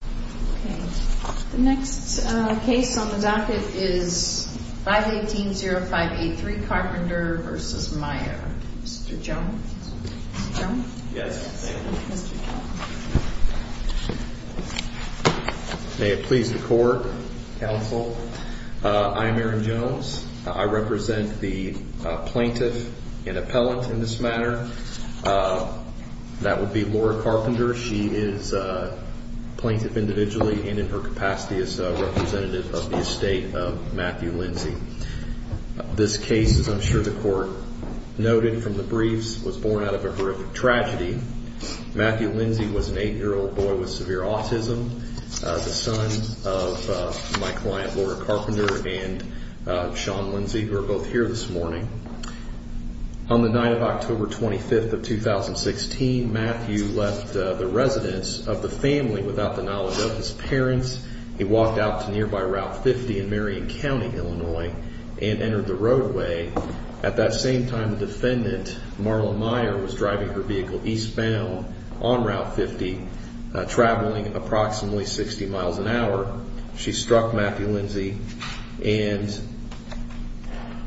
The next case on the docket is 518-0583 Carpenter v. Meyer. Mr. Jones? Yes, thank you. May it please the court, counsel. I am Aaron Jones. I represent the plaintiff and appellant in this matter. That would be Laura Carpenter. She is a plaintiff individually and in her capacity as a representative of the estate of Matthew Lindsey. This case, as I'm sure the court noted from the briefs, was born out of a horrific tragedy. Matthew Lindsey was an 8-year-old boy with severe autism, the son of my client Laura Carpenter and Shawn Lindsey, who are both here this morning. On the night of October 25th of 2016, Matthew left the residence of the family without the knowledge of his parents. He walked out to nearby Route 50 in Marion County, Illinois, and entered the roadway. At that same time, the defendant, Marla Meyer, was driving her vehicle eastbound on Route 50, traveling approximately 60 miles an hour. She struck Matthew Lindsey, and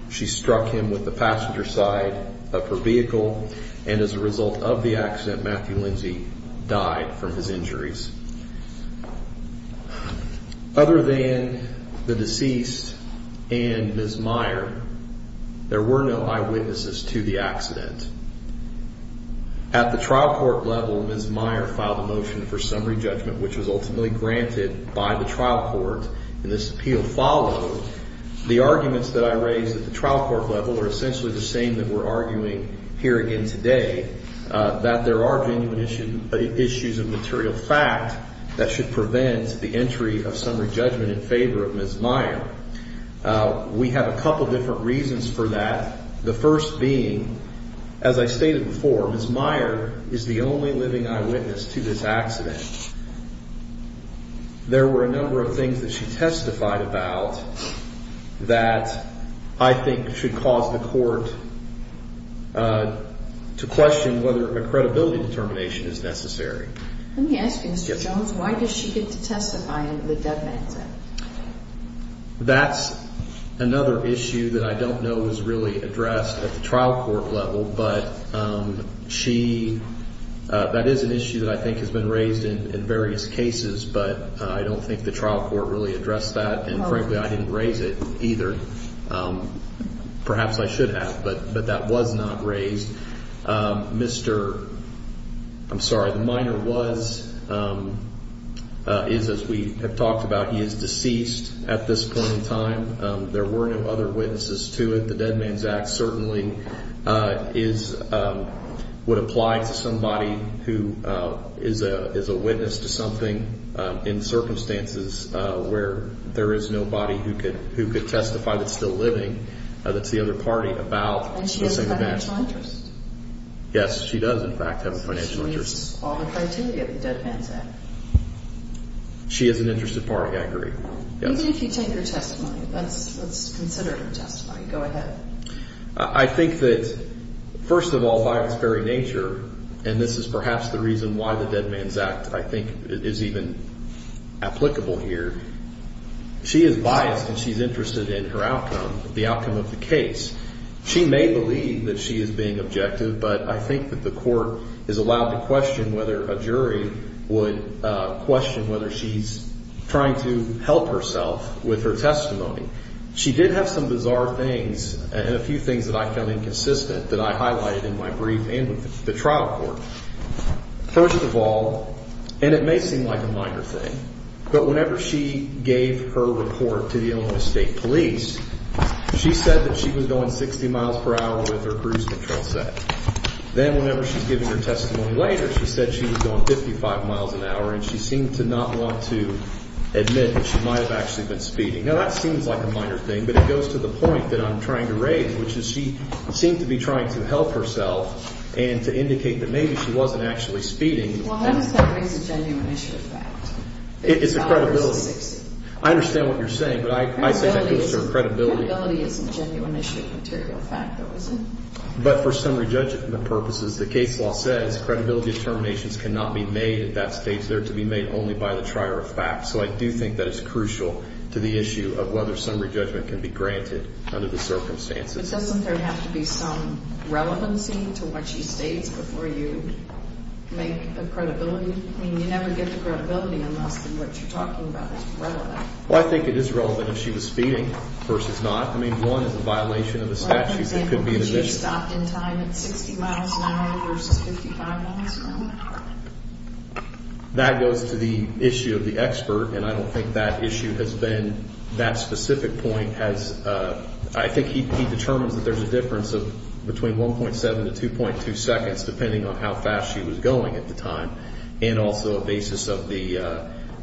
she struck him with the passenger side of her vehicle. And as a result of the accident, Matthew Lindsey died from his injuries. Other than the deceased and Ms. Meyer, there were no eyewitnesses to the accident. At the trial court level, Ms. Meyer filed a motion for summary judgment, which was ultimately granted by the trial court, and this appeal followed. The arguments that I raised at the trial court level are essentially the same that we're arguing here again today, that there are genuine issues of material fact that should prevent the entry of summary judgment in favor of Ms. Meyer. We have a couple different reasons for that, the first being, as I stated before, Ms. Meyer is the only living eyewitness to this accident. There were a number of things that she testified about that I think should cause the court to question whether a credibility determination is necessary. Let me ask you, Mr. Jones, why does she get to testify in the dead man's end? That's another issue that I don't know was really addressed at the trial court level, but that is an issue that I think has been raised in various cases, but I don't think the trial court really addressed that, and frankly, I didn't raise it either. Perhaps I should have, but that was not raised. I'm sorry, the minor is, as we have talked about, he is deceased at this point in time. There were no other witnesses to it. The Dead Man's Act certainly would apply to somebody who is a witness to something in circumstances where there is nobody who could testify that's still living, that's the other party, about the same event. And she has a financial interest. Yes, she does, in fact, have a financial interest. She meets all the criteria of the Dead Man's Act. She is an interested party, I agree. Even if you take her testimony, let's consider her testimony. Go ahead. I think that, first of all, by its very nature, and this is perhaps the reason why the Dead Man's Act, I think, is even applicable here, she is biased and she's interested in her outcome, the outcome of the case. She may believe that she is being objective, but I think that the court is allowed to question whether a jury would question whether she's trying to help herself with her testimony. She did have some bizarre things and a few things that I found inconsistent that I highlighted in my brief and with the trial court. First of all, and it may seem like a minor thing, but whenever she gave her report to the Illinois State Police, she said that she was going 60 miles per hour with her cruise control set. Then whenever she's giving her testimony later, she said she was going 55 miles an hour and she seemed to not want to admit that she might have actually been speeding. Now, that seems like a minor thing, but it goes to the point that I'm trying to raise, which is she seemed to be trying to help herself and to indicate that maybe she wasn't actually speeding. Well, how does that raise a genuine issue of fact? It's a credibility. I understand what you're saying, but I think that goes to credibility. Credibility isn't a genuine issue of material fact, though, is it? But for summary judgment purposes, the case law says credibility determinations cannot be made at that stage. They're to be made only by the trier of fact. So I do think that it's crucial to the issue of whether summary judgment can be granted under the circumstances. But doesn't there have to be some relevancy to what she states before you make a credibility? I mean, you never get the credibility unless what you're talking about is relevant. Well, I think it is relevant if she was speeding versus not. I mean, one is a violation of the statute. For example, if she stopped in time at 60 miles an hour versus 55 miles an hour. That goes to the issue of the expert, and I don't think that issue has been that specific point. I think he determines that there's a difference of between 1.7 to 2.2 seconds, depending on how fast she was going at the time, and also a basis of the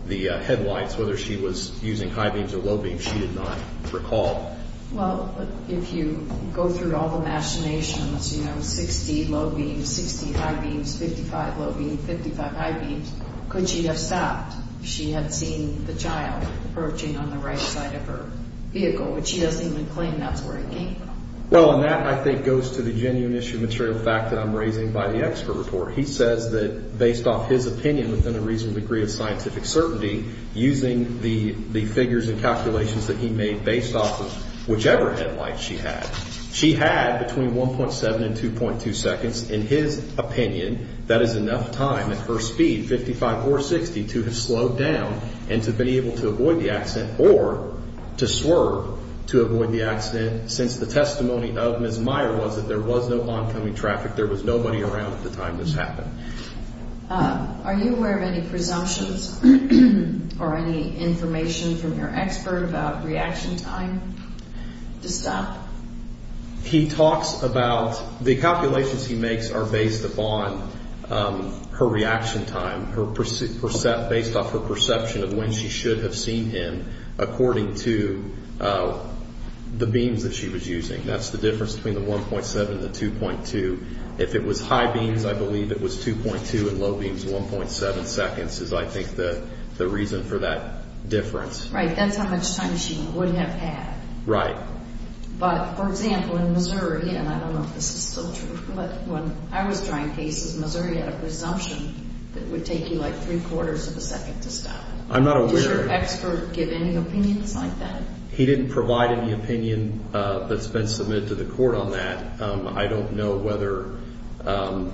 headlights, whether she was using high beams or low beams. She did not recall. Well, if you go through all the machinations, you know, 60 low beams, 60 high beams, 55 low beams, 55 high beams, could she have stopped? She had seen the child approaching on the right side of her vehicle, but she doesn't even claim that's where it came from. Well, and that, I think, goes to the genuine issue of material fact that I'm raising by the expert report. He says that based off his opinion within a reasonable degree of scientific certainty, using the figures and calculations that he made based off of whichever headlights she had, she had between 1.7 and 2.2 seconds. In his opinion, that is enough time at her speed, 55 or 60, to have slowed down and to have been able to avoid the accident or to swerve to avoid the accident since the testimony of Ms. Meyer was that there was no oncoming traffic. There was nobody around at the time this happened. Are you aware of any presumptions or any information from your expert about reaction time to stop? He talks about the calculations he makes are based upon her reaction time, based off her perception of when she should have seen him according to the beams that she was using. That's the difference between the 1.7 and the 2.2. If it was high beams, I believe it was 2.2, and low beams, 1.7 seconds is, I think, the reason for that difference. Right. That's how much time she would have had. Right. But, for example, in Missouri, and I don't know if this is still true, but when I was trying cases, Missouri had a presumption that it would take you like three-quarters of a second to stop. I'm not aware. Did your expert give any opinions like that? He didn't provide any opinion that's been submitted to the court on that. I don't know whether- Well,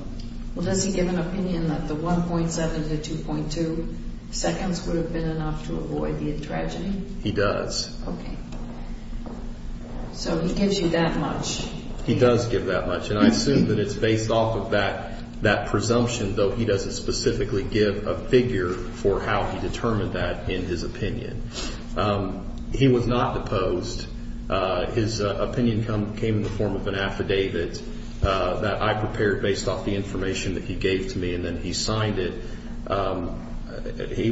does he give an opinion that the 1.7 to 2.2 seconds would have been enough to avoid the tragedy? He does. Okay. So he gives you that much? He does give that much, and I assume that it's based off of that presumption, though he doesn't specifically give a figure for how he determined that in his opinion. He was not deposed. His opinion came in the form of an affidavit that I prepared based off the information that he gave to me, and then he signed it. He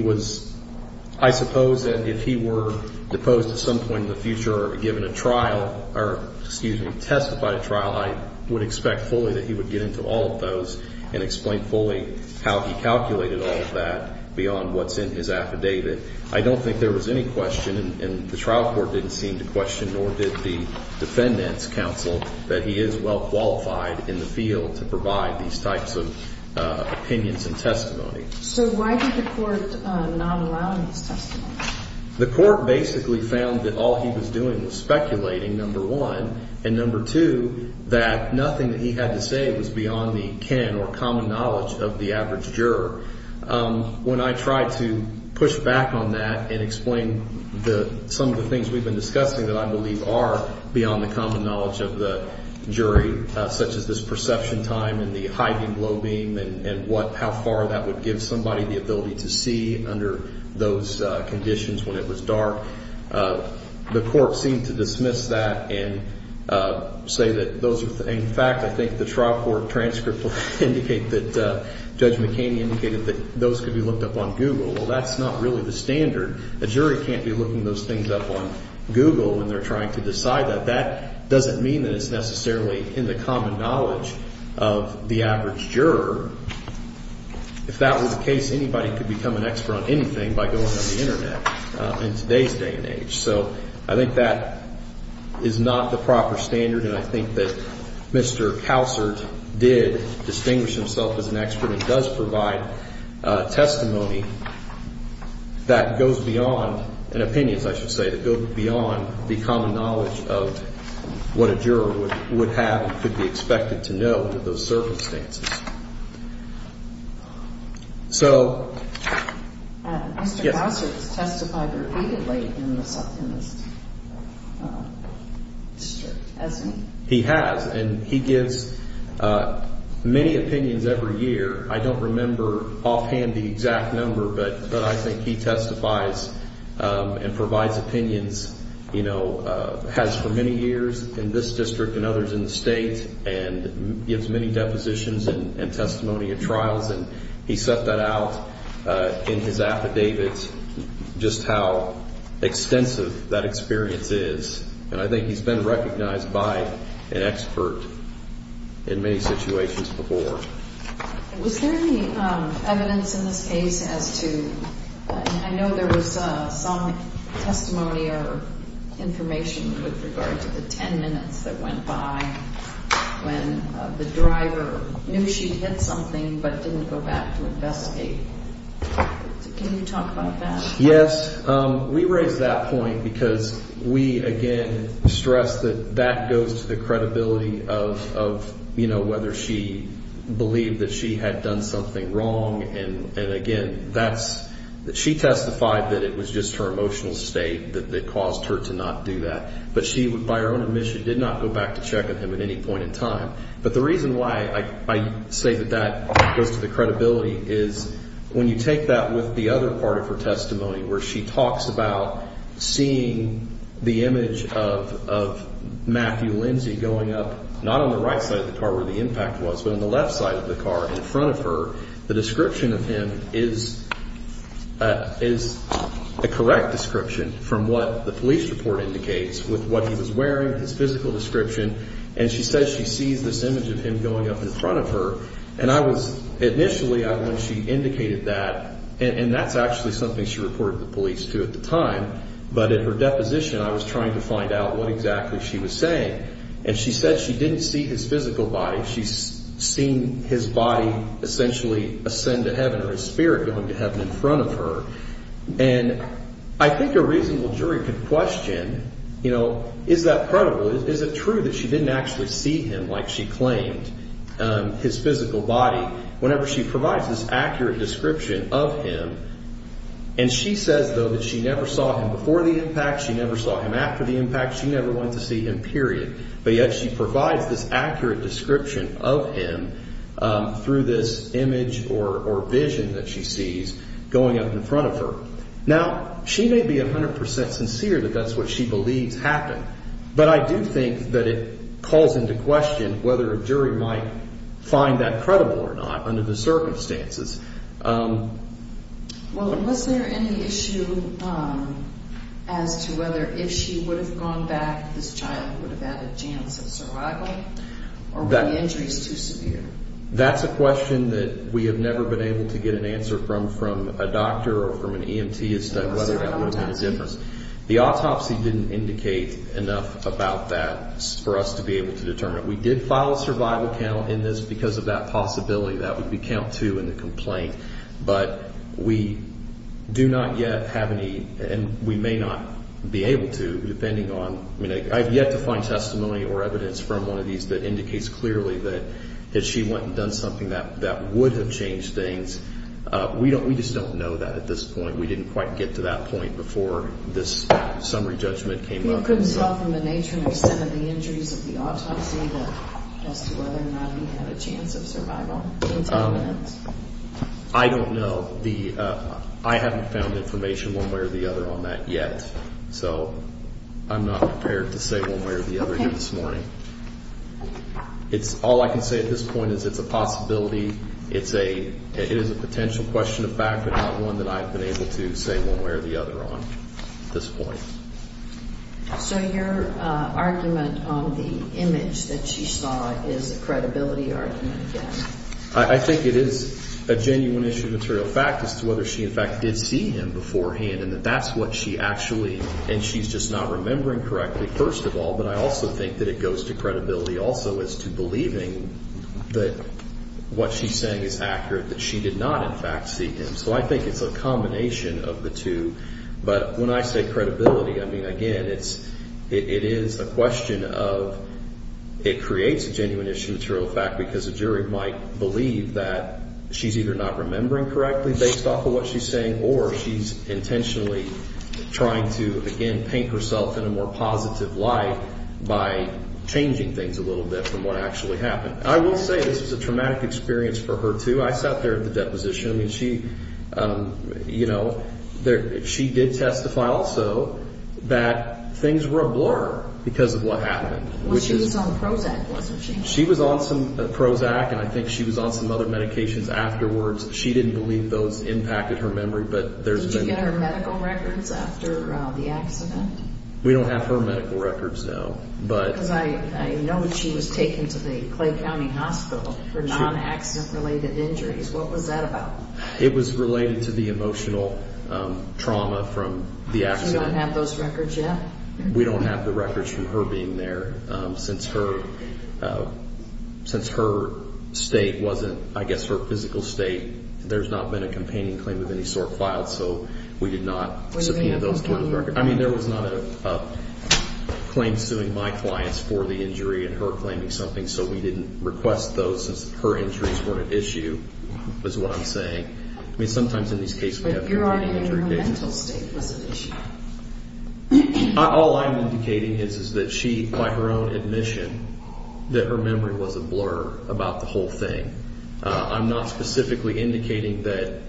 was-I suppose that if he were deposed at some point in the future or given a trial, or, excuse me, testified at trial, I would expect fully that he would get into all of those and explain fully how he calculated all of that beyond what's in his affidavit. I don't think there was any question, and the trial court didn't seem to question, nor did the defendant's counsel, that he is well-qualified in the field to provide these types of opinions and testimony. So why did the court not allow his testimony? The court basically found that all he was doing was speculating, number one, and number two, that nothing that he had to say was beyond the kin or common knowledge of the average juror. When I tried to push back on that and explain some of the things we've been discussing that I believe are beyond the common knowledge of the jury, such as this perception time and the high beam, low beam, and how far that would give somebody the ability to see under those conditions when it was dark, the court seemed to dismiss that and say that those are- Judge McCain indicated that those could be looked up on Google. Well, that's not really the standard. A jury can't be looking those things up on Google when they're trying to decide that. That doesn't mean that it's necessarily in the common knowledge of the average juror. If that were the case, anybody could become an expert on anything by going on the Internet in today's day and age. So I think that is not the proper standard, and I think that Mr. Kausert did distinguish himself as an expert. He does provide testimony that goes beyond, and opinions, I should say, that go beyond the common knowledge of what a juror would have and could be expected to know under those circumstances. So- Mr. Kausert has testified repeatedly in this district, hasn't he? He has, and he gives many opinions every year. I don't remember offhand the exact number, but I think he testifies and provides opinions, has for many years in this district and others in the state, and gives many depositions and testimony at trials, and he set that out in his affidavits just how extensive that experience is, and I think he's been recognized by an expert in many situations before. Was there any evidence in this case as to- when the driver knew she'd hit something but didn't go back to investigate? Can you talk about that? Yes. We raise that point because we, again, stress that that goes to the credibility of, you know, whether she believed that she had done something wrong, and, again, that's- she testified that it was just her emotional state that caused her to not do that, but she, by her own admission, did not go back to check on him at any point in time. But the reason why I say that that goes to the credibility is when you take that with the other part of her testimony, where she talks about seeing the image of Matthew Lindsay going up, not on the right side of the car where the impact was, but on the left side of the car in front of her, the description of him is a correct description from what the police report indicates with what he was wearing, his physical description, and she says she sees this image of him going up in front of her, and I was-initially when she indicated that, and that's actually something she reported the police to at the time, but at her deposition I was trying to find out what exactly she was saying, and she said she didn't see his physical body. She's seen his body essentially ascend to heaven or his spirit going to heaven in front of her, and I think a reasonable jury could question, you know, is that credible? Is it true that she didn't actually see him like she claimed, his physical body, whenever she provides this accurate description of him? And she says, though, that she never saw him before the impact. She never saw him after the impact. She never went to see him, period, but yet she provides this accurate description of him through this image or vision that she sees going up in front of her. Now, she may be 100% sincere that that's what she believes happened, but I do think that it calls into question whether a jury might find that credible or not under the circumstances. Well, was there any issue as to whether if she would have gone back, this child would have had a chance of survival or were the injuries too severe? That's a question that we have never been able to get an answer from a doctor or from an EMT as to whether that would have made a difference. The autopsy didn't indicate enough about that for us to be able to determine. We did file a survival count in this because of that possibility. That would be count two in the complaint. But we do not yet have any, and we may not be able to depending on, I mean, I have yet to find testimony or evidence from one of these that indicates clearly that she went and done something that would have changed things. We just don't know that at this point. We didn't quite get to that point before this summary judgment came up. You couldn't tell from the nature and extent of the injuries of the autopsy as to whether or not he had a chance of survival? I don't know. I haven't found information one way or the other on that yet. So I'm not prepared to say one way or the other this morning. All I can say at this point is it's a possibility. It is a potential question of fact, but not one that I've been able to say one way or the other on at this point. So your argument on the image that she saw is a credibility argument again? I think it is a genuine issue of material fact as to whether she, in fact, did see him beforehand and that that's what she actually, and she's just not remembering correctly, first of all, but I also think that it goes to credibility also as to believing that what she's saying is accurate, that she did not, in fact, see him. So I think it's a combination of the two. But when I say credibility, I mean, again, it is a question of it creates a genuine issue of material fact because a jury might believe that she's either not remembering correctly based off of what she's saying or she's intentionally trying to, again, paint herself in a more positive light by changing things a little bit from what actually happened. I will say this was a traumatic experience for her, too. I sat there at the deposition. I mean, she did testify also that things were a blur because of what happened. Well, she was on Prozac, wasn't she? She was on some Prozac, and I think she was on some other medications afterwards. She didn't believe those impacted her memory, but there's been... Did you get her medical records after the accident? We don't have her medical records now, but... Because I know that she was taken to the Clay County Hospital for non-accident-related injuries. What was that about? It was related to the emotional trauma from the accident. So you don't have those records yet? We don't have the records from her being there. Since her state wasn't, I guess, her physical state, there's not been a companion claim of any sort filed, so we did not subpoena those records. I mean, there was not a claim suing my clients for the injury and her claiming something, so we didn't request those since her injuries weren't an issue is what I'm saying. But you're arguing her mental state was an issue. All I'm indicating is that she, by her own admission, that her memory was a blur about the whole thing. I'm not specifically indicating that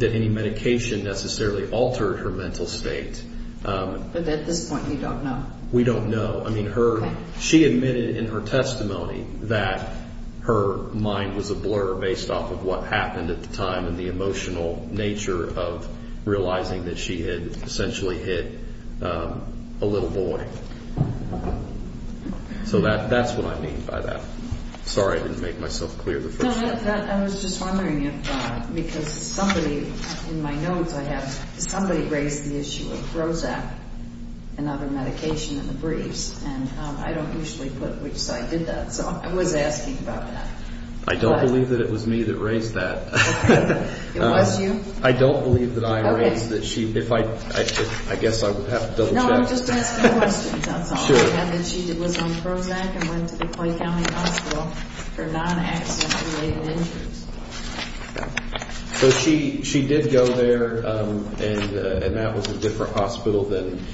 any medication necessarily altered her mental state. But at this point, you don't know. We don't know. I mean, she admitted in her testimony that her mind was a blur based off of what happened at the time and the emotional nature of realizing that she had essentially hit a little boy. So that's what I mean by that. Sorry I didn't make myself clear the first time. I was just wondering if, because somebody in my notes I have, somebody raised the issue of Prozac and other medication in the briefs, and I don't usually put which side did that, so I was asking about that. I don't believe that it was me that raised that. It was you? I don't believe that I raised that. Okay. I guess I would have to double check. No, I'm just asking questions, that's all. Sure. And then she was on Prozac and went to the Clay County Hospital for non-accident related injuries. So she did go there, and that was a different hospital than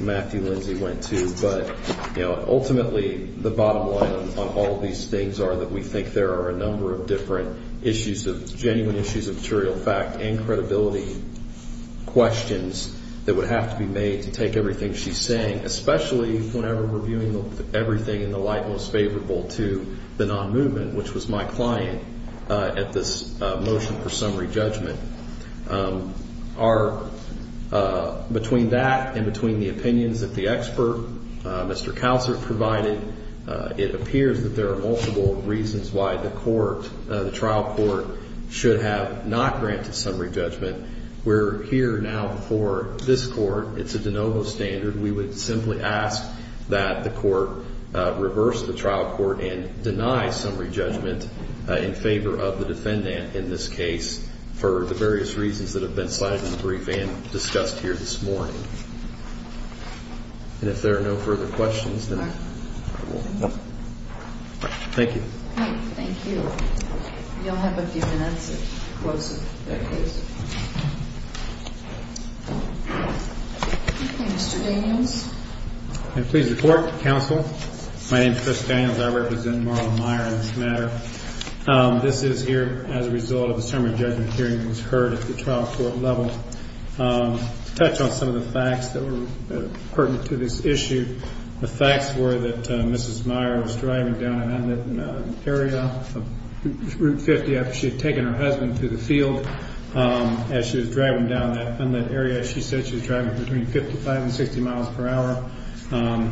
Matthew Lindsay went to. But, you know, ultimately the bottom line on all these things are that we think there are a number of different issues, genuine issues of material fact and credibility questions that would have to be made to take everything she's saying, especially whenever we're viewing everything in the light most favorable to the non-movement, which was my client at this motion for summary judgment. Between that and between the opinions that the expert, Mr. Cowsert, provided, it appears that there are multiple reasons why the trial court should have not granted summary judgment. We're here now for this court. It's a de novo standard. We would simply ask that the court reverse the trial court and deny summary judgment in favor of the defendant in this case for the various reasons that have been cited in the brief and discussed here this morning. And if there are no further questions, then we'll move on. Thank you. Thank you. You'll have a few minutes to close the case. Mr. Daniels. I please report to counsel. My name is Chris Daniels. I represent Marla Meyer in this matter. This is here as a result of the summary judgment hearing that was heard at the trial court level. To touch on some of the facts that were pertinent to this issue, the facts were that Mrs. Meyer was driving down an unlit area of Route 50 after she had taken her husband to the field. As she was driving down that unlit area, she said she was driving between 55 and 60 miles per hour.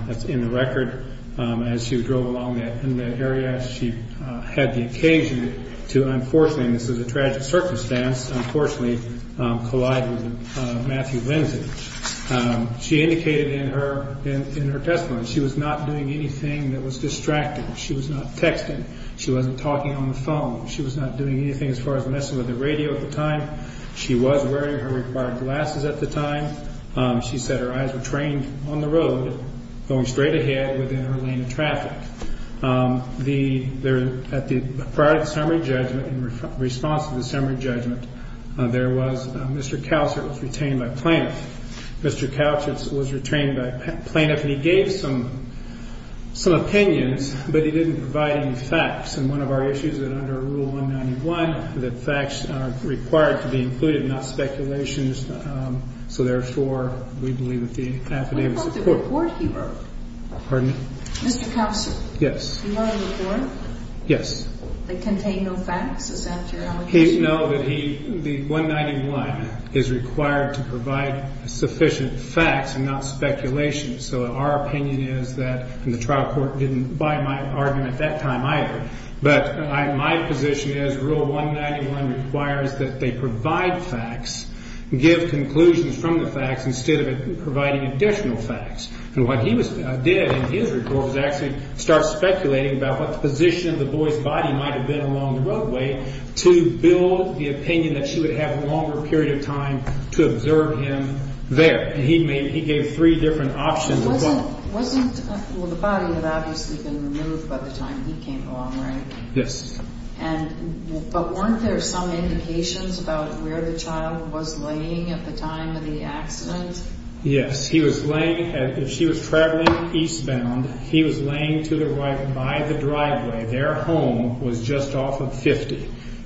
That's in the record. As she drove along that unlit area, she had the occasion to, unfortunately, and this is a tragic circumstance, unfortunately, collide with Matthew Lindsay. She indicated in her testimony she was not doing anything that was distracting. She was not texting. She wasn't talking on the phone. She was not doing anything as far as messing with the radio at the time. She was wearing her required glasses at the time. She said her eyes were trained on the road, going straight ahead within her lane of traffic. Prior to the summary judgment, in response to the summary judgment, Mr. Cowsert was retained by plaintiff. Mr. Cowsert was retained by plaintiff, and he gave some opinions, but he didn't provide any facts. And one of our issues is that under Rule 191, that facts are required to be included, not speculations. So, therefore, we believe that the affidavit supports that. What about the report he wrote? Pardon me? Mr. Cowsert. Yes. Do you know the report? Yes. They contain no facts? Is that your allegation? No, that he, the 191, is required to provide sufficient facts and not speculation. So our opinion is that, and the trial court didn't buy my argument at that time either, but my position is Rule 191 requires that they provide facts, give conclusions from the facts, instead of providing additional facts. And what he did in his report was actually start speculating about what position the boy's body might have been along the roadway to build the opinion that she would have a longer period of time to observe him there. And he gave three different options as well. Wasn't, well, the body had obviously been removed by the time he came along, right? Yes. And, but weren't there some indications about where the child was laying at the time of the accident? Yes, he was laying, if she was traveling eastbound, he was laying to the right by the driveway. Their home was just off of 50.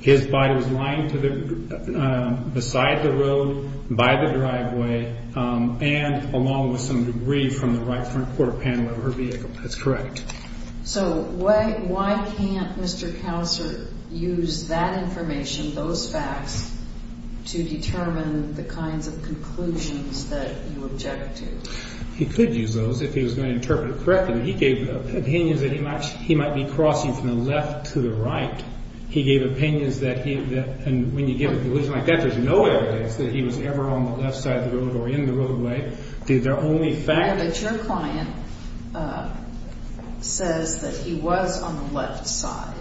His body was lying to the, beside the road, by the driveway, and along with some debris from the right front quarter panel of her vehicle. That's correct. So why can't Mr. Couser use that information, those facts, to determine the kinds of conclusions that you objected to? He could use those if he was going to interpret it correctly. He gave opinions that he might be crossing from the left to the right. He gave opinions that he, and when you give a conclusion like that, there's no evidence that he was ever on the left side of the road or in the roadway. The only fact... But your client says that he was on the left side.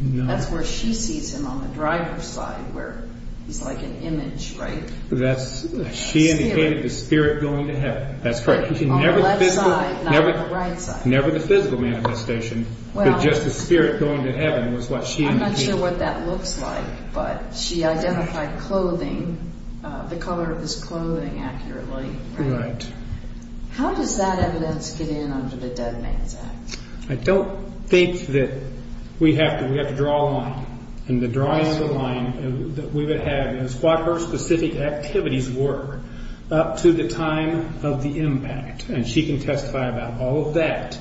No. That's where she sees him, on the driver's side, where he's like an image, right? That's, she indicated the spirit going to heaven. That's correct. On the left side, not on the right side. Never the physical manifestation, but just the spirit going to heaven was what she indicated. I'm not sure what that looks like, but she identified clothing, the color of his clothing accurately. Right. How does that evidence get in under the Dead Man's Act? I don't think that we have to, we have to draw a line. And the drawing of the line that we would have is what her specific activities were up to the time of the impact. And she can testify about all of that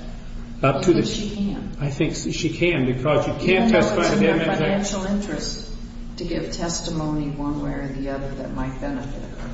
up to the... I think she can. I think she can, because you can't testify... No, no, it's in her financial interest to give testimony one way or the other that might benefit her.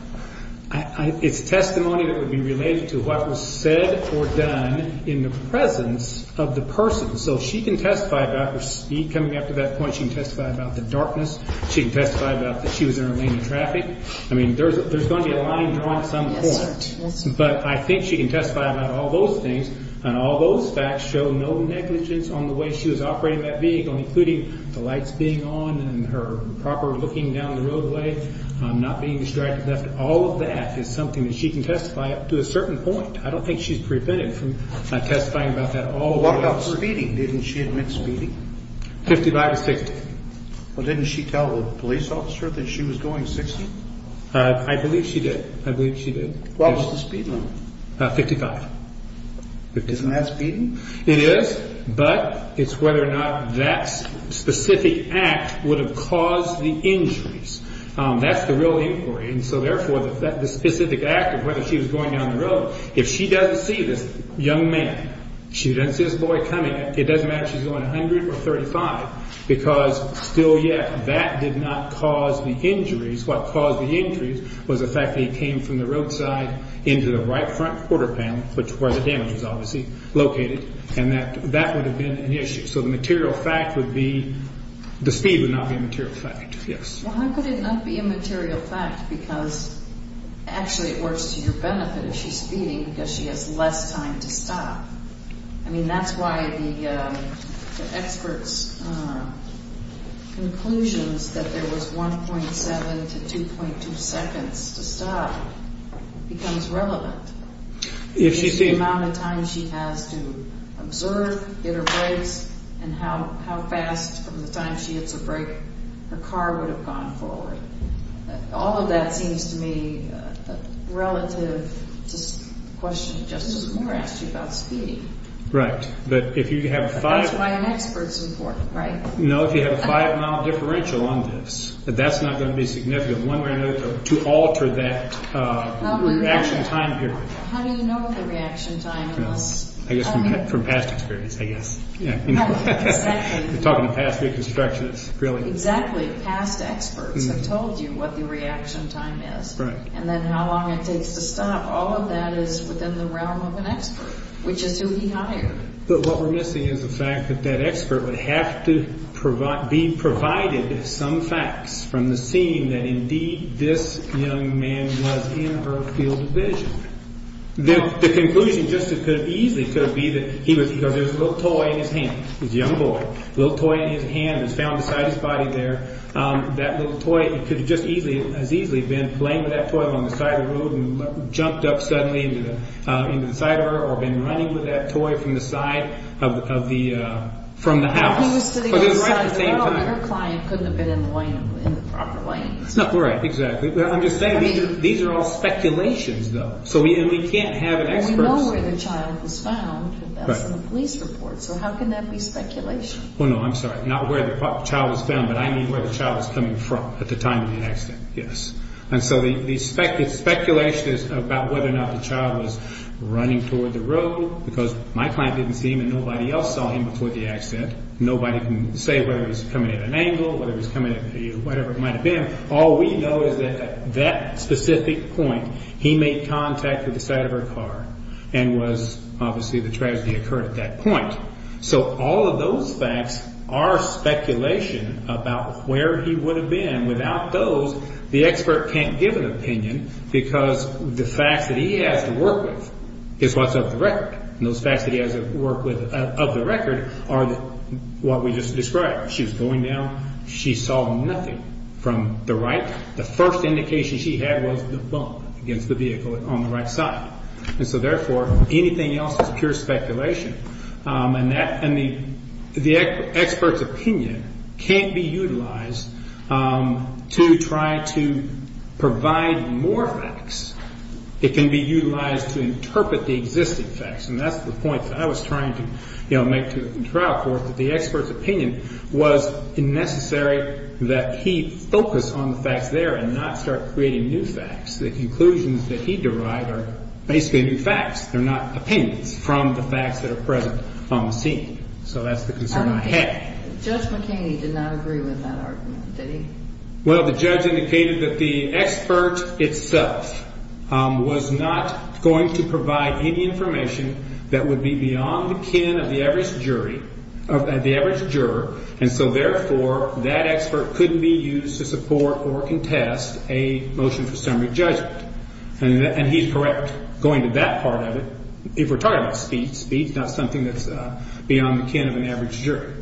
It's testimony that would be related to what was said or done in the presence of the person. So she can testify about her speed coming up to that point. She can testify about the darkness. She can testify about that she was in a lane of traffic. I mean, there's going to be a line drawn at some point. But I think she can testify about all those things. And all those facts show no negligence on the way she was operating that vehicle, including the lights being on and her proper looking down the roadway, not being distracted. All of that is something that she can testify up to a certain point. I don't think she's prevented from testifying about that all the way. What about speeding? Didn't she admit speeding? 55 to 60. Well, didn't she tell the police officer that she was going 60? I believe she did. What was the speed limit? 55. Isn't that speeding? It is. But it's whether or not that specific act would have caused the injuries. That's the real inquiry. And so, therefore, the specific act of whether she was going down the road, if she doesn't see this young man, she doesn't see this boy coming, it doesn't matter if she's going 100 or 35 because still yet that did not cause the injuries. What caused the injuries was the fact that he came from the roadside into the right front quarter panel, where the damage was obviously located, and that that would have been an issue. So the material fact would be the speed would not be a material fact. Well, how could it not be a material fact because actually it works to your benefit if she's speeding because she has less time to stop. I mean, that's why the expert's conclusions that there was 1.7 to 2.2 seconds to stop becomes relevant. If she sees the amount of time she has to observe, get her brakes, and how fast from the time she hits a brake her car would have gone forward. All of that seems to me relative to the question Justice Moore asked you about speeding. Right. That's why an expert's important, right? No, if you have a five-mile differential on this, that's not going to be significant. One way or another to alter that reaction time period. How do you know what the reaction time is? I guess from past experience, I guess. Exactly. We're talking past reconstructions, really. Exactly. Past experts have told you what the reaction time is and then how long it takes to stop. All of that is within the realm of an expert, which is who he hired. But what we're missing is the fact that that expert would have to be provided some facts from the scene that indeed this young man was in her field of vision. The conclusion just as easily could be that he was because there was a little toy in his hand. He was a young boy. A little toy in his hand was found beside his body there. That little toy could have just as easily been playing with that toy along the side of the road and jumped up suddenly into the side of her or been running with that toy from the side of the house. Her client couldn't have been in the proper lane. Exactly. I'm just saying these are all speculations, though. We can't have an expert... We know where the child was found. That's in the police report. How can that be speculation? I'm sorry. Not where the child was found, but I mean where the child was coming from at the time of the accident. Yes. The speculation is about whether or not the child was running toward the road because my client didn't see him and nobody else saw him before the accident. Nobody can say whether he was coming at an angle, whether he was coming at whatever it might have been. All we know is that at that specific point he made contact with the side of her car and was obviously the tragedy occurred at that point. So all of those facts are speculation about where he would have been. Without those, the expert can't give an opinion because the facts that he has to work with is what's of the record. And those facts that he has to work with of the record are what we just described. She was going down. She saw nothing from the right. The first indication she had was the bump against the vehicle on the right side. And so, therefore, anything else is pure speculation. And the expert's opinion can't be utilized to try to provide more facts. It can be utilized to interpret the existing facts. And that's the point that I was trying to make to the trial court, that the expert's opinion was necessary that he focus on the facts there and not start creating new facts. They're not opinions from the facts that are present on the scene. So that's the concern I had. Judge McKinney did not agree with that argument, did he? Well, the judge indicated that the expert itself was not going to provide any information that would be beyond the kin of the average jury, of the average juror. And so, therefore, that expert couldn't be used to support or contest a motion for summary judgment. And he's correct going to that part of it. If we're talking about speed, speed's not something that's beyond the kin of an average jury.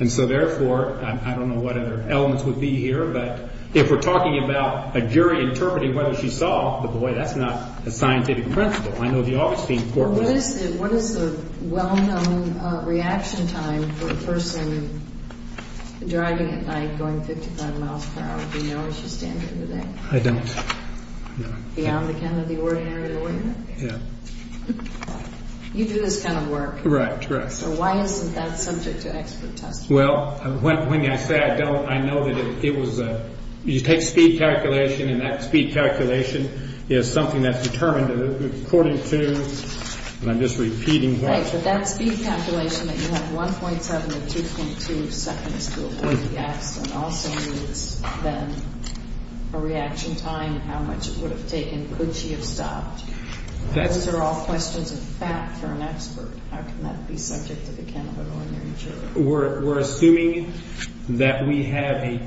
And so, therefore, I don't know what other elements would be here, but if we're talking about a jury interpreting whether she saw the boy, that's not a scientific principle. I know the office being court- Well, what is the well-known reaction time for a person driving at night going 55 miles per hour? Do you know what your standard would be? I don't. Beyond the kin of the ordinary lawyer? Yeah. You do this kind of work. Right, right. So why isn't that subject to expert testing? Well, when I say I don't, I know that it was a- you take speed calculation, and that speed calculation is something that's determined according to- and I'm just repeating what- Right, but that speed calculation that you have 1.7 to 2.2 seconds to avoid the accident also needs, then, a reaction time and how much it would have taken. Could she have stopped? Those are all questions of fact for an expert. How can that be subject to the kin of an ordinary juror? We're assuming that we have a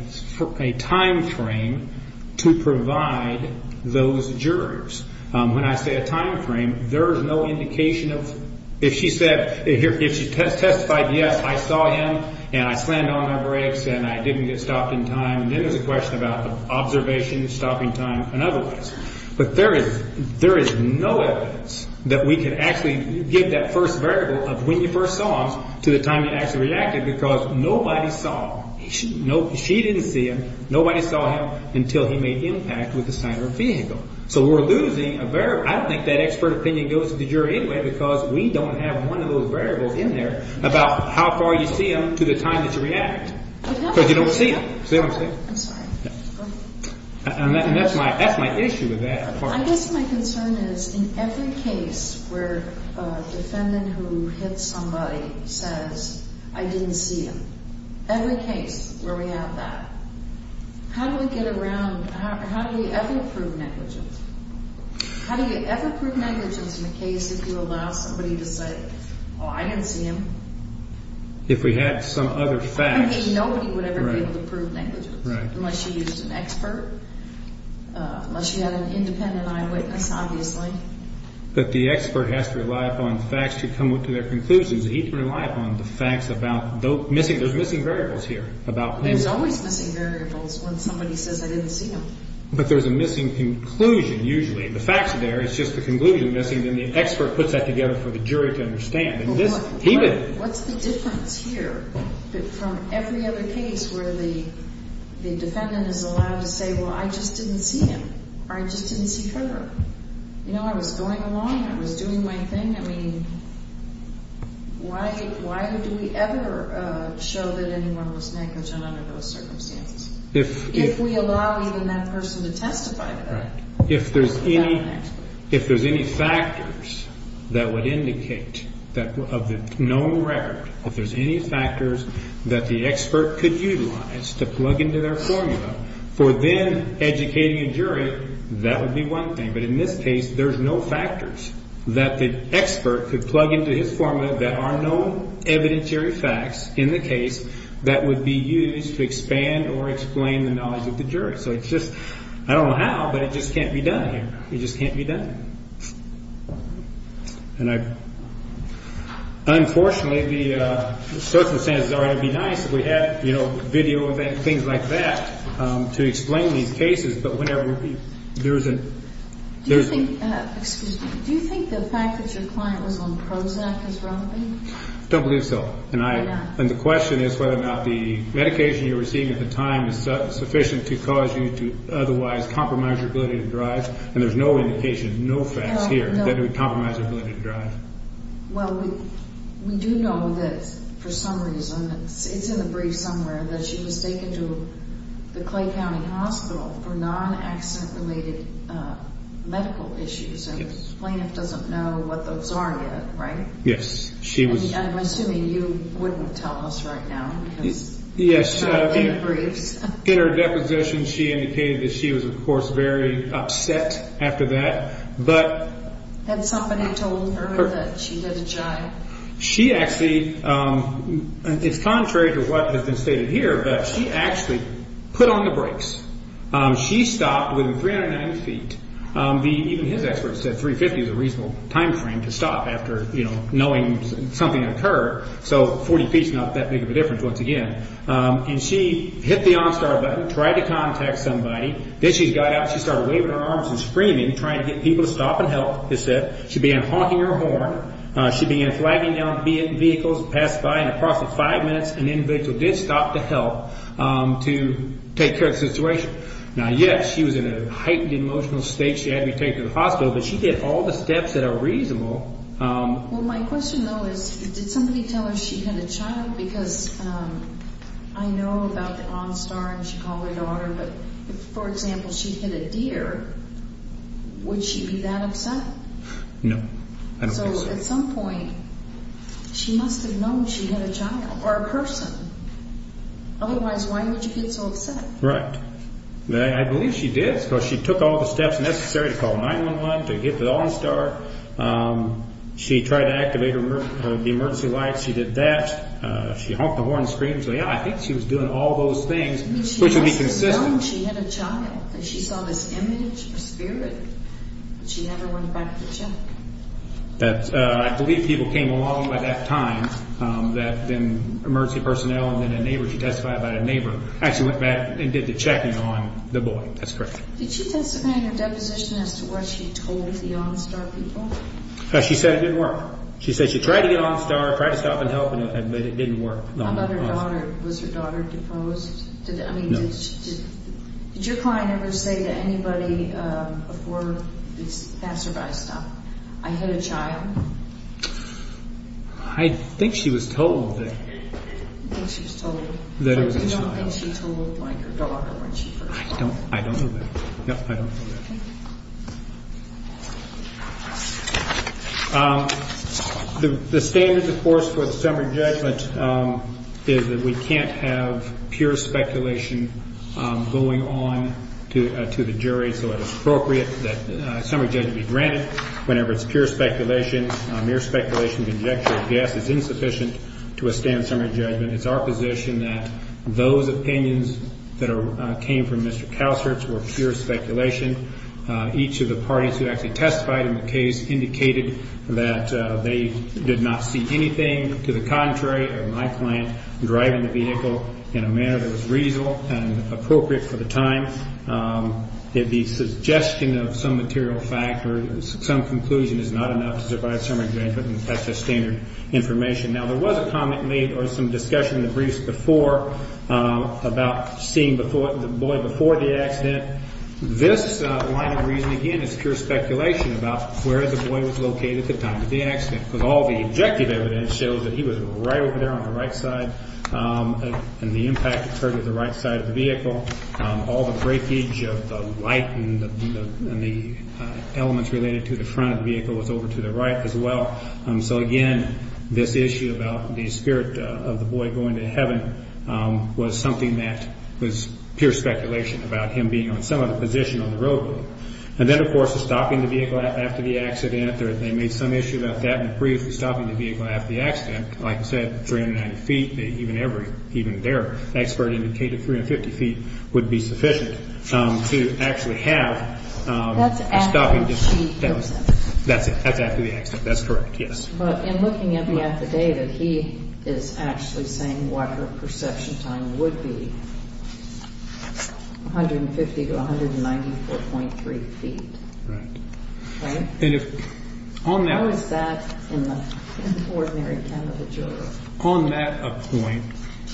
timeframe to provide those jurors. When I say a timeframe, there is no indication of- If she testified, yes, I saw him, and I slammed on my brakes, and I didn't get stopped in time, then there's a question about the observation, stopping time, and otherwise. But there is no evidence that we can actually give that first variable of when you first saw him to the time you actually reacted because nobody saw him. She didn't see him. Nobody saw him until he made impact with the side of her vehicle. So we're losing a variable. I don't think that expert opinion goes to the jury anyway because we don't have one of those variables in there about how far you see him to the time that you react because you don't see him. See what I'm saying? I'm sorry. And that's my issue with that. I guess my concern is in every case where a defendant who hits somebody says, I didn't see him, every case where we have that, how do we get around- How do you ever prove negligence in a case if you allow somebody to say, oh, I didn't see him? If we had some other facts. Nobody would ever be able to prove negligence unless you used an expert, unless you had an independent eyewitness, obviously. But the expert has to rely upon facts to come to their conclusions. He can rely upon the facts about those missing variables here. There's always missing variables when somebody says, I didn't see him. But there's a missing conclusion usually. The facts are there. It's just the conclusion missing. Then the expert puts that together for the jury to understand. What's the difference here from every other case where the defendant is allowed to say, well, I just didn't see him or I just didn't see her? I was going along. I was doing my thing. I mean, why would we ever show that anyone was negligent under those circumstances? If we allow even that person to testify to that. Right. If there's any factors that would indicate that of the known record, if there's any factors that the expert could utilize to plug into their formula for then educating a jury, that would be one thing. But in this case, there's no factors that the expert could plug into his formula that are known evidentiary facts in the case that would be used to expand or explain the knowledge of the jury. So it's just, I don't know how, but it just can't be done here. It just can't be done. And unfortunately, the circumstances are going to be nice if we had, you know, video and things like that to explain these cases. Do you think the fact that your client was on Prozac is wrong? I don't believe so. And the question is whether or not the medication you were seeing at the time is sufficient to cause you to otherwise compromise your ability to drive. And there's no indication, no facts here that it would compromise your ability to drive. Well, we do know that for some reason, it's in the brief somewhere, that she was taken to the Clay County Hospital for non-accident-related medical issues. And the plaintiff doesn't know what those are yet, right? Yes, she was. I'm assuming you wouldn't tell us right now. Yes, in her deposition, she indicated that she was, of course, very upset after that. Had somebody told her that she did a jive? She actually, it's contrary to what has been stated here, but she actually put on the brakes. She stopped within 390 feet. Even his expert said 350 is a reasonable time frame to stop after, you know, knowing something occurred. So 40 feet is not that big of a difference, once again. And she hit the on-start button, tried to contact somebody. Then she got up, she started waving her arms and screaming, trying to get people to stop and help. She began honking her horn. She began flagging down vehicles and passed by. In the course of five minutes, an individual did stop to help to take care of the situation. Now, yes, she was in a heightened emotional state. She had to be taken to the hospital, but she did all the steps that are reasonable. Well, my question, though, is did somebody tell her she hit a child? Because I know about the on-start and she called her daughter, but if, for example, she hit a deer, would she be that upset? No, I don't think so. So at some point, she must have known she hit a child or a person. Otherwise, why would she get so upset? Right. I believe she did because she took all the steps necessary to call 911, to hit the on-start. She tried to activate the emergency lights. She did that. She honked the horn and screamed. So, yeah, I think she was doing all those things, which would be consistent. Did she know she hit a child? Did she saw this image or spirit? Did she ever went back to check? I believe people came along at that time, that then emergency personnel and then a neighbor, she testified about a neighbor, actually went back and did the checking on the boy. That's correct. Did she testify in her deposition as to what she told the on-start people? She said it didn't work. She said she tried to get on-start, tried to stop and help, but it didn't work. How about her daughter? Was her daughter deposed? No. Did your client ever say to anybody before this passerby stop, I hit a child? I think she was told that. You think she was told? That it was a child. You don't think she told her daughter when she first called? I don't know that. No, I don't know that. Okay. The standards, of course, for the summary judgment is that we can't have pure speculation going on to the jury, so it is appropriate that a summary judgment be granted whenever it's pure speculation. Mere speculation, conjecture, or guess is insufficient to withstand summary judgment. It's our position that those opinions that came from Mr. Kalsertz were pure speculation. Each of the parties who actually testified in the case indicated that they did not see anything to the contrary of my client driving the vehicle in a manner that was reasonable and appropriate for the time. The suggestion of some material fact or some conclusion is not enough to survive summary judgment, and that's just standard information. Now, there was a comment made or some discussion in the briefs before about seeing the boy before the accident. This line of reasoning, again, is pure speculation about where the boy was located at the time of the accident because all the objective evidence shows that he was right over there on the right side, and the impact occurred at the right side of the vehicle. All the breakage of the light and the elements related to the front of the vehicle was over to the right as well. So, again, this issue about the spirit of the boy going to heaven was something that was pure speculation about him being on some other position on the roadway. And then, of course, the stopping the vehicle after the accident, they made some issue about that in the brief, stopping the vehicle after the accident. Like I said, 390 feet, even their expert indicated 350 feet would be sufficient to actually have a stopping distance. That's after he goes in. That's it. That's after the accident. That's correct, yes. But in looking at the affidavit, he is actually saying what her perception time would be, 150 to 194.3 feet. Right. How is that in the ordinary Canada juror? On that point,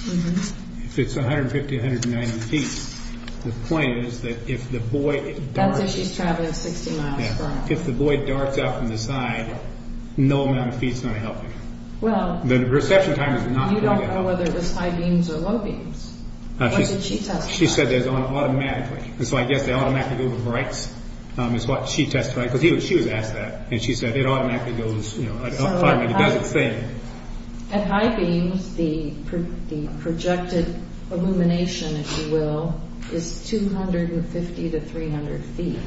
if it's 150, 190 feet, the point is that if the boy darks out from the side, no amount of feet is going to help him. The perception time is not going to help him. You don't know whether it was high beams or low beams. What did she testify? She said it was automatically. So I guess they automatically go to brights, is what she testified, because she was asked that. And she said it automatically goes, you know, it doesn't fade. At high beams, the projected illumination, if you will, is 250 to 300 feet.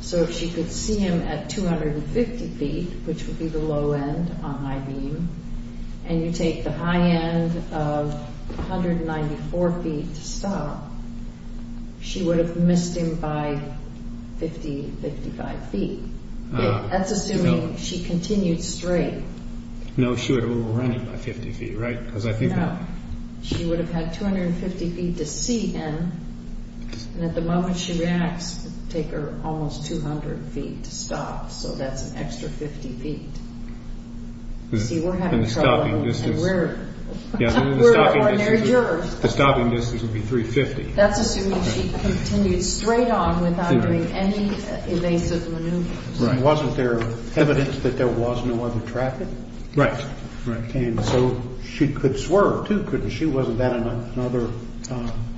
So if she could see him at 250 feet, which would be the low end on high beam, and you take the high end of 194 feet to stop, she would have missed him by 50, 55 feet. That's assuming she continued straight. No, she would have overrun him by 50 feet, right? She would have had 250 feet to see him. And at the moment she reacts, it would take her almost 200 feet to stop. So that's an extra 50 feet. See, we're having trouble. We're ordinary jurors. The stopping distance would be 350. That's assuming she continued straight on without doing any evasive maneuvers. Wasn't there evidence that there was no other traffic? Right. And so she could swerve, too, couldn't she? Wasn't that another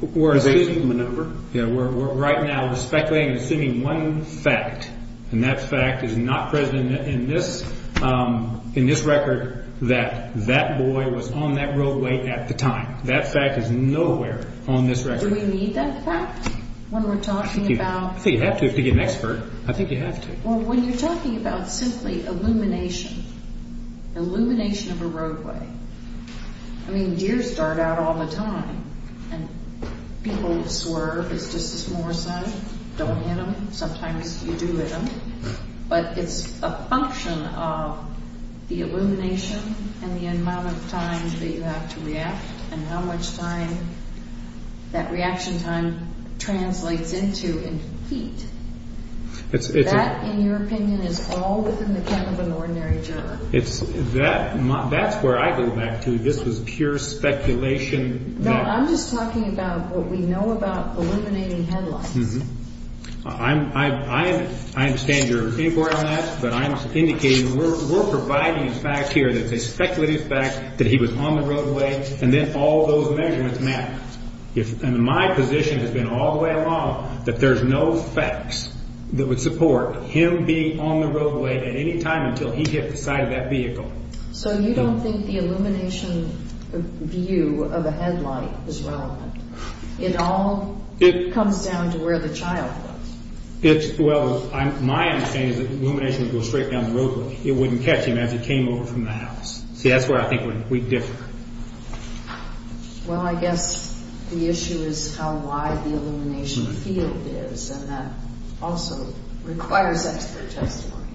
evasive maneuver? Right now we're speculating and assuming one fact, and that fact is not present in this record that that boy was on that roadway at the time. That fact is nowhere on this record. Do we need that fact when we're talking about? I think you have to if you're an expert. I think you have to. Well, when you're talking about simply illumination, illumination of a roadway, I mean, deers dart out all the time, and people swerve. It's just a small sign. Don't hit them. Sometimes you do hit them. But it's a function of the illumination and the amount of time that you have to react and how much time that reaction time translates into in feet. That, in your opinion, is all within the cap of an ordinary driver. That's where I go back to. This was pure speculation. No, I'm just talking about what we know about illuminating headlines. I understand your inquiry on that, but I'm indicating we're providing a fact here that they speculated the fact that he was on the roadway, and then all those measurements match. My position has been all the way along that there's no facts that would support him being on the roadway at any time until he hit the side of that vehicle. So you don't think the illumination view of a headlight is relevant? It all comes down to where the child was. Well, my understanding is that the illumination would go straight down the roadway. It wouldn't catch him as he came over from the house. See, that's where I think we differ. Well, I guess the issue is how wide the illumination field is, and that also requires expert testimony,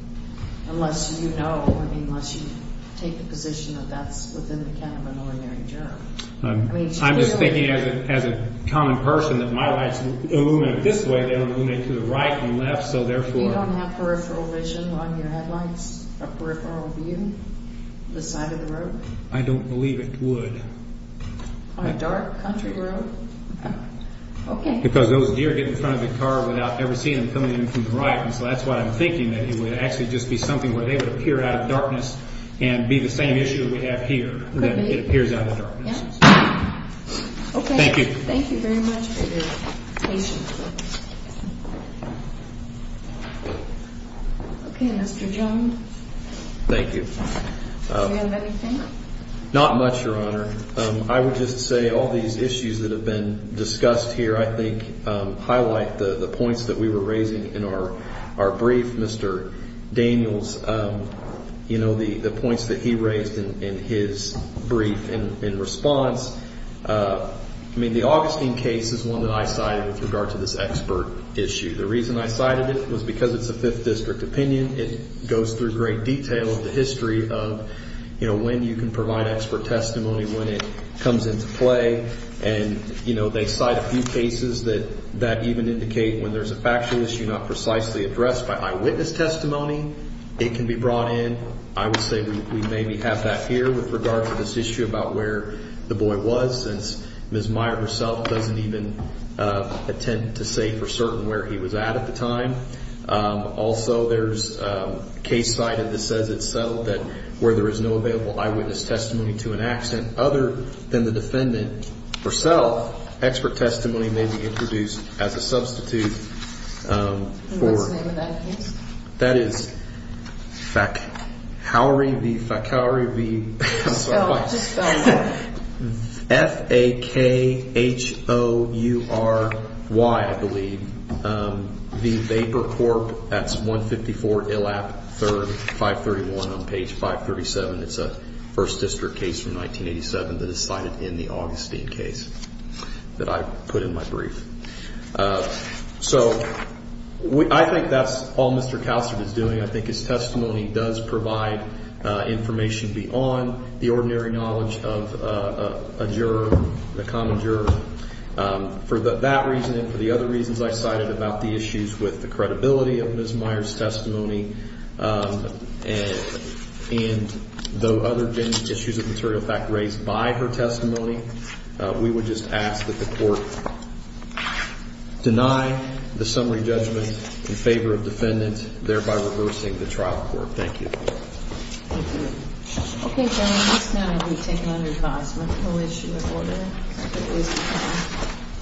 unless you know, unless you take the position that that's within the cap of an ordinary driver. I'm just thinking as a common person that my lights illuminate this way, they don't illuminate to the right and left, so therefore... You don't have peripheral vision on your headlights, a peripheral view, the side of the road? I don't believe it would. On a dark country road? Okay. Because those deer get in front of the car without ever seeing them coming in from the right, and so that's why I'm thinking that it would actually just be something where they would appear out of darkness and be the same issue that we have here, that it appears out of darkness. Okay. Thank you. Thank you very much for your patience. Okay, Mr. Jones. Thank you. Do you have anything? Not much, Your Honor. I would just say all these issues that have been discussed here, I think, highlight the points that we were raising in our brief. Mr. Daniels, you know, the points that he raised in his brief in response. I mean, the Augustine case is one that I cited with regard to this expert issue. The reason I cited it was because it's a Fifth District opinion. It goes through great detail of the history of, you know, when you can provide expert testimony, when it comes into play. And, you know, they cite a few cases that even indicate when there's a factual issue not precisely addressed by eyewitness testimony, it can be brought in. I would say we maybe have that here with regard to this issue about where the boy was, since Ms. Meyer herself doesn't even intend to say for certain where he was at at the time. Also, there's a case cited that says it's settled that where there is no available eyewitness testimony to an accident, other than the defendant herself, expert testimony may be introduced as a substitute for. And what's the name of that case? That is Fakhoury v. Fakhoury v. I'm sorry. Just spell it. F-A-K-H-O-U-R-Y, I believe. The Vapor Corp. That's 154 Illap 3rd, 531 on page 537. It's a First District case from 1987 that is cited in the Augustine case that I put in my brief. So I think that's all Mr. Calster is doing. I think his testimony does provide information beyond the ordinary knowledge of a juror, a common juror. For that reason and for the other reasons I cited about the issues with the credibility of Ms. Meyer's testimony and the other issues of material fact raised by her testimony, we would just ask that the court deny the summary judgment in favor of defendant, thereby reversing the trial court. Thank you. Thank you. Okay, gentlemen. That's now going to be taken under advisement. No issue with order. Thank you.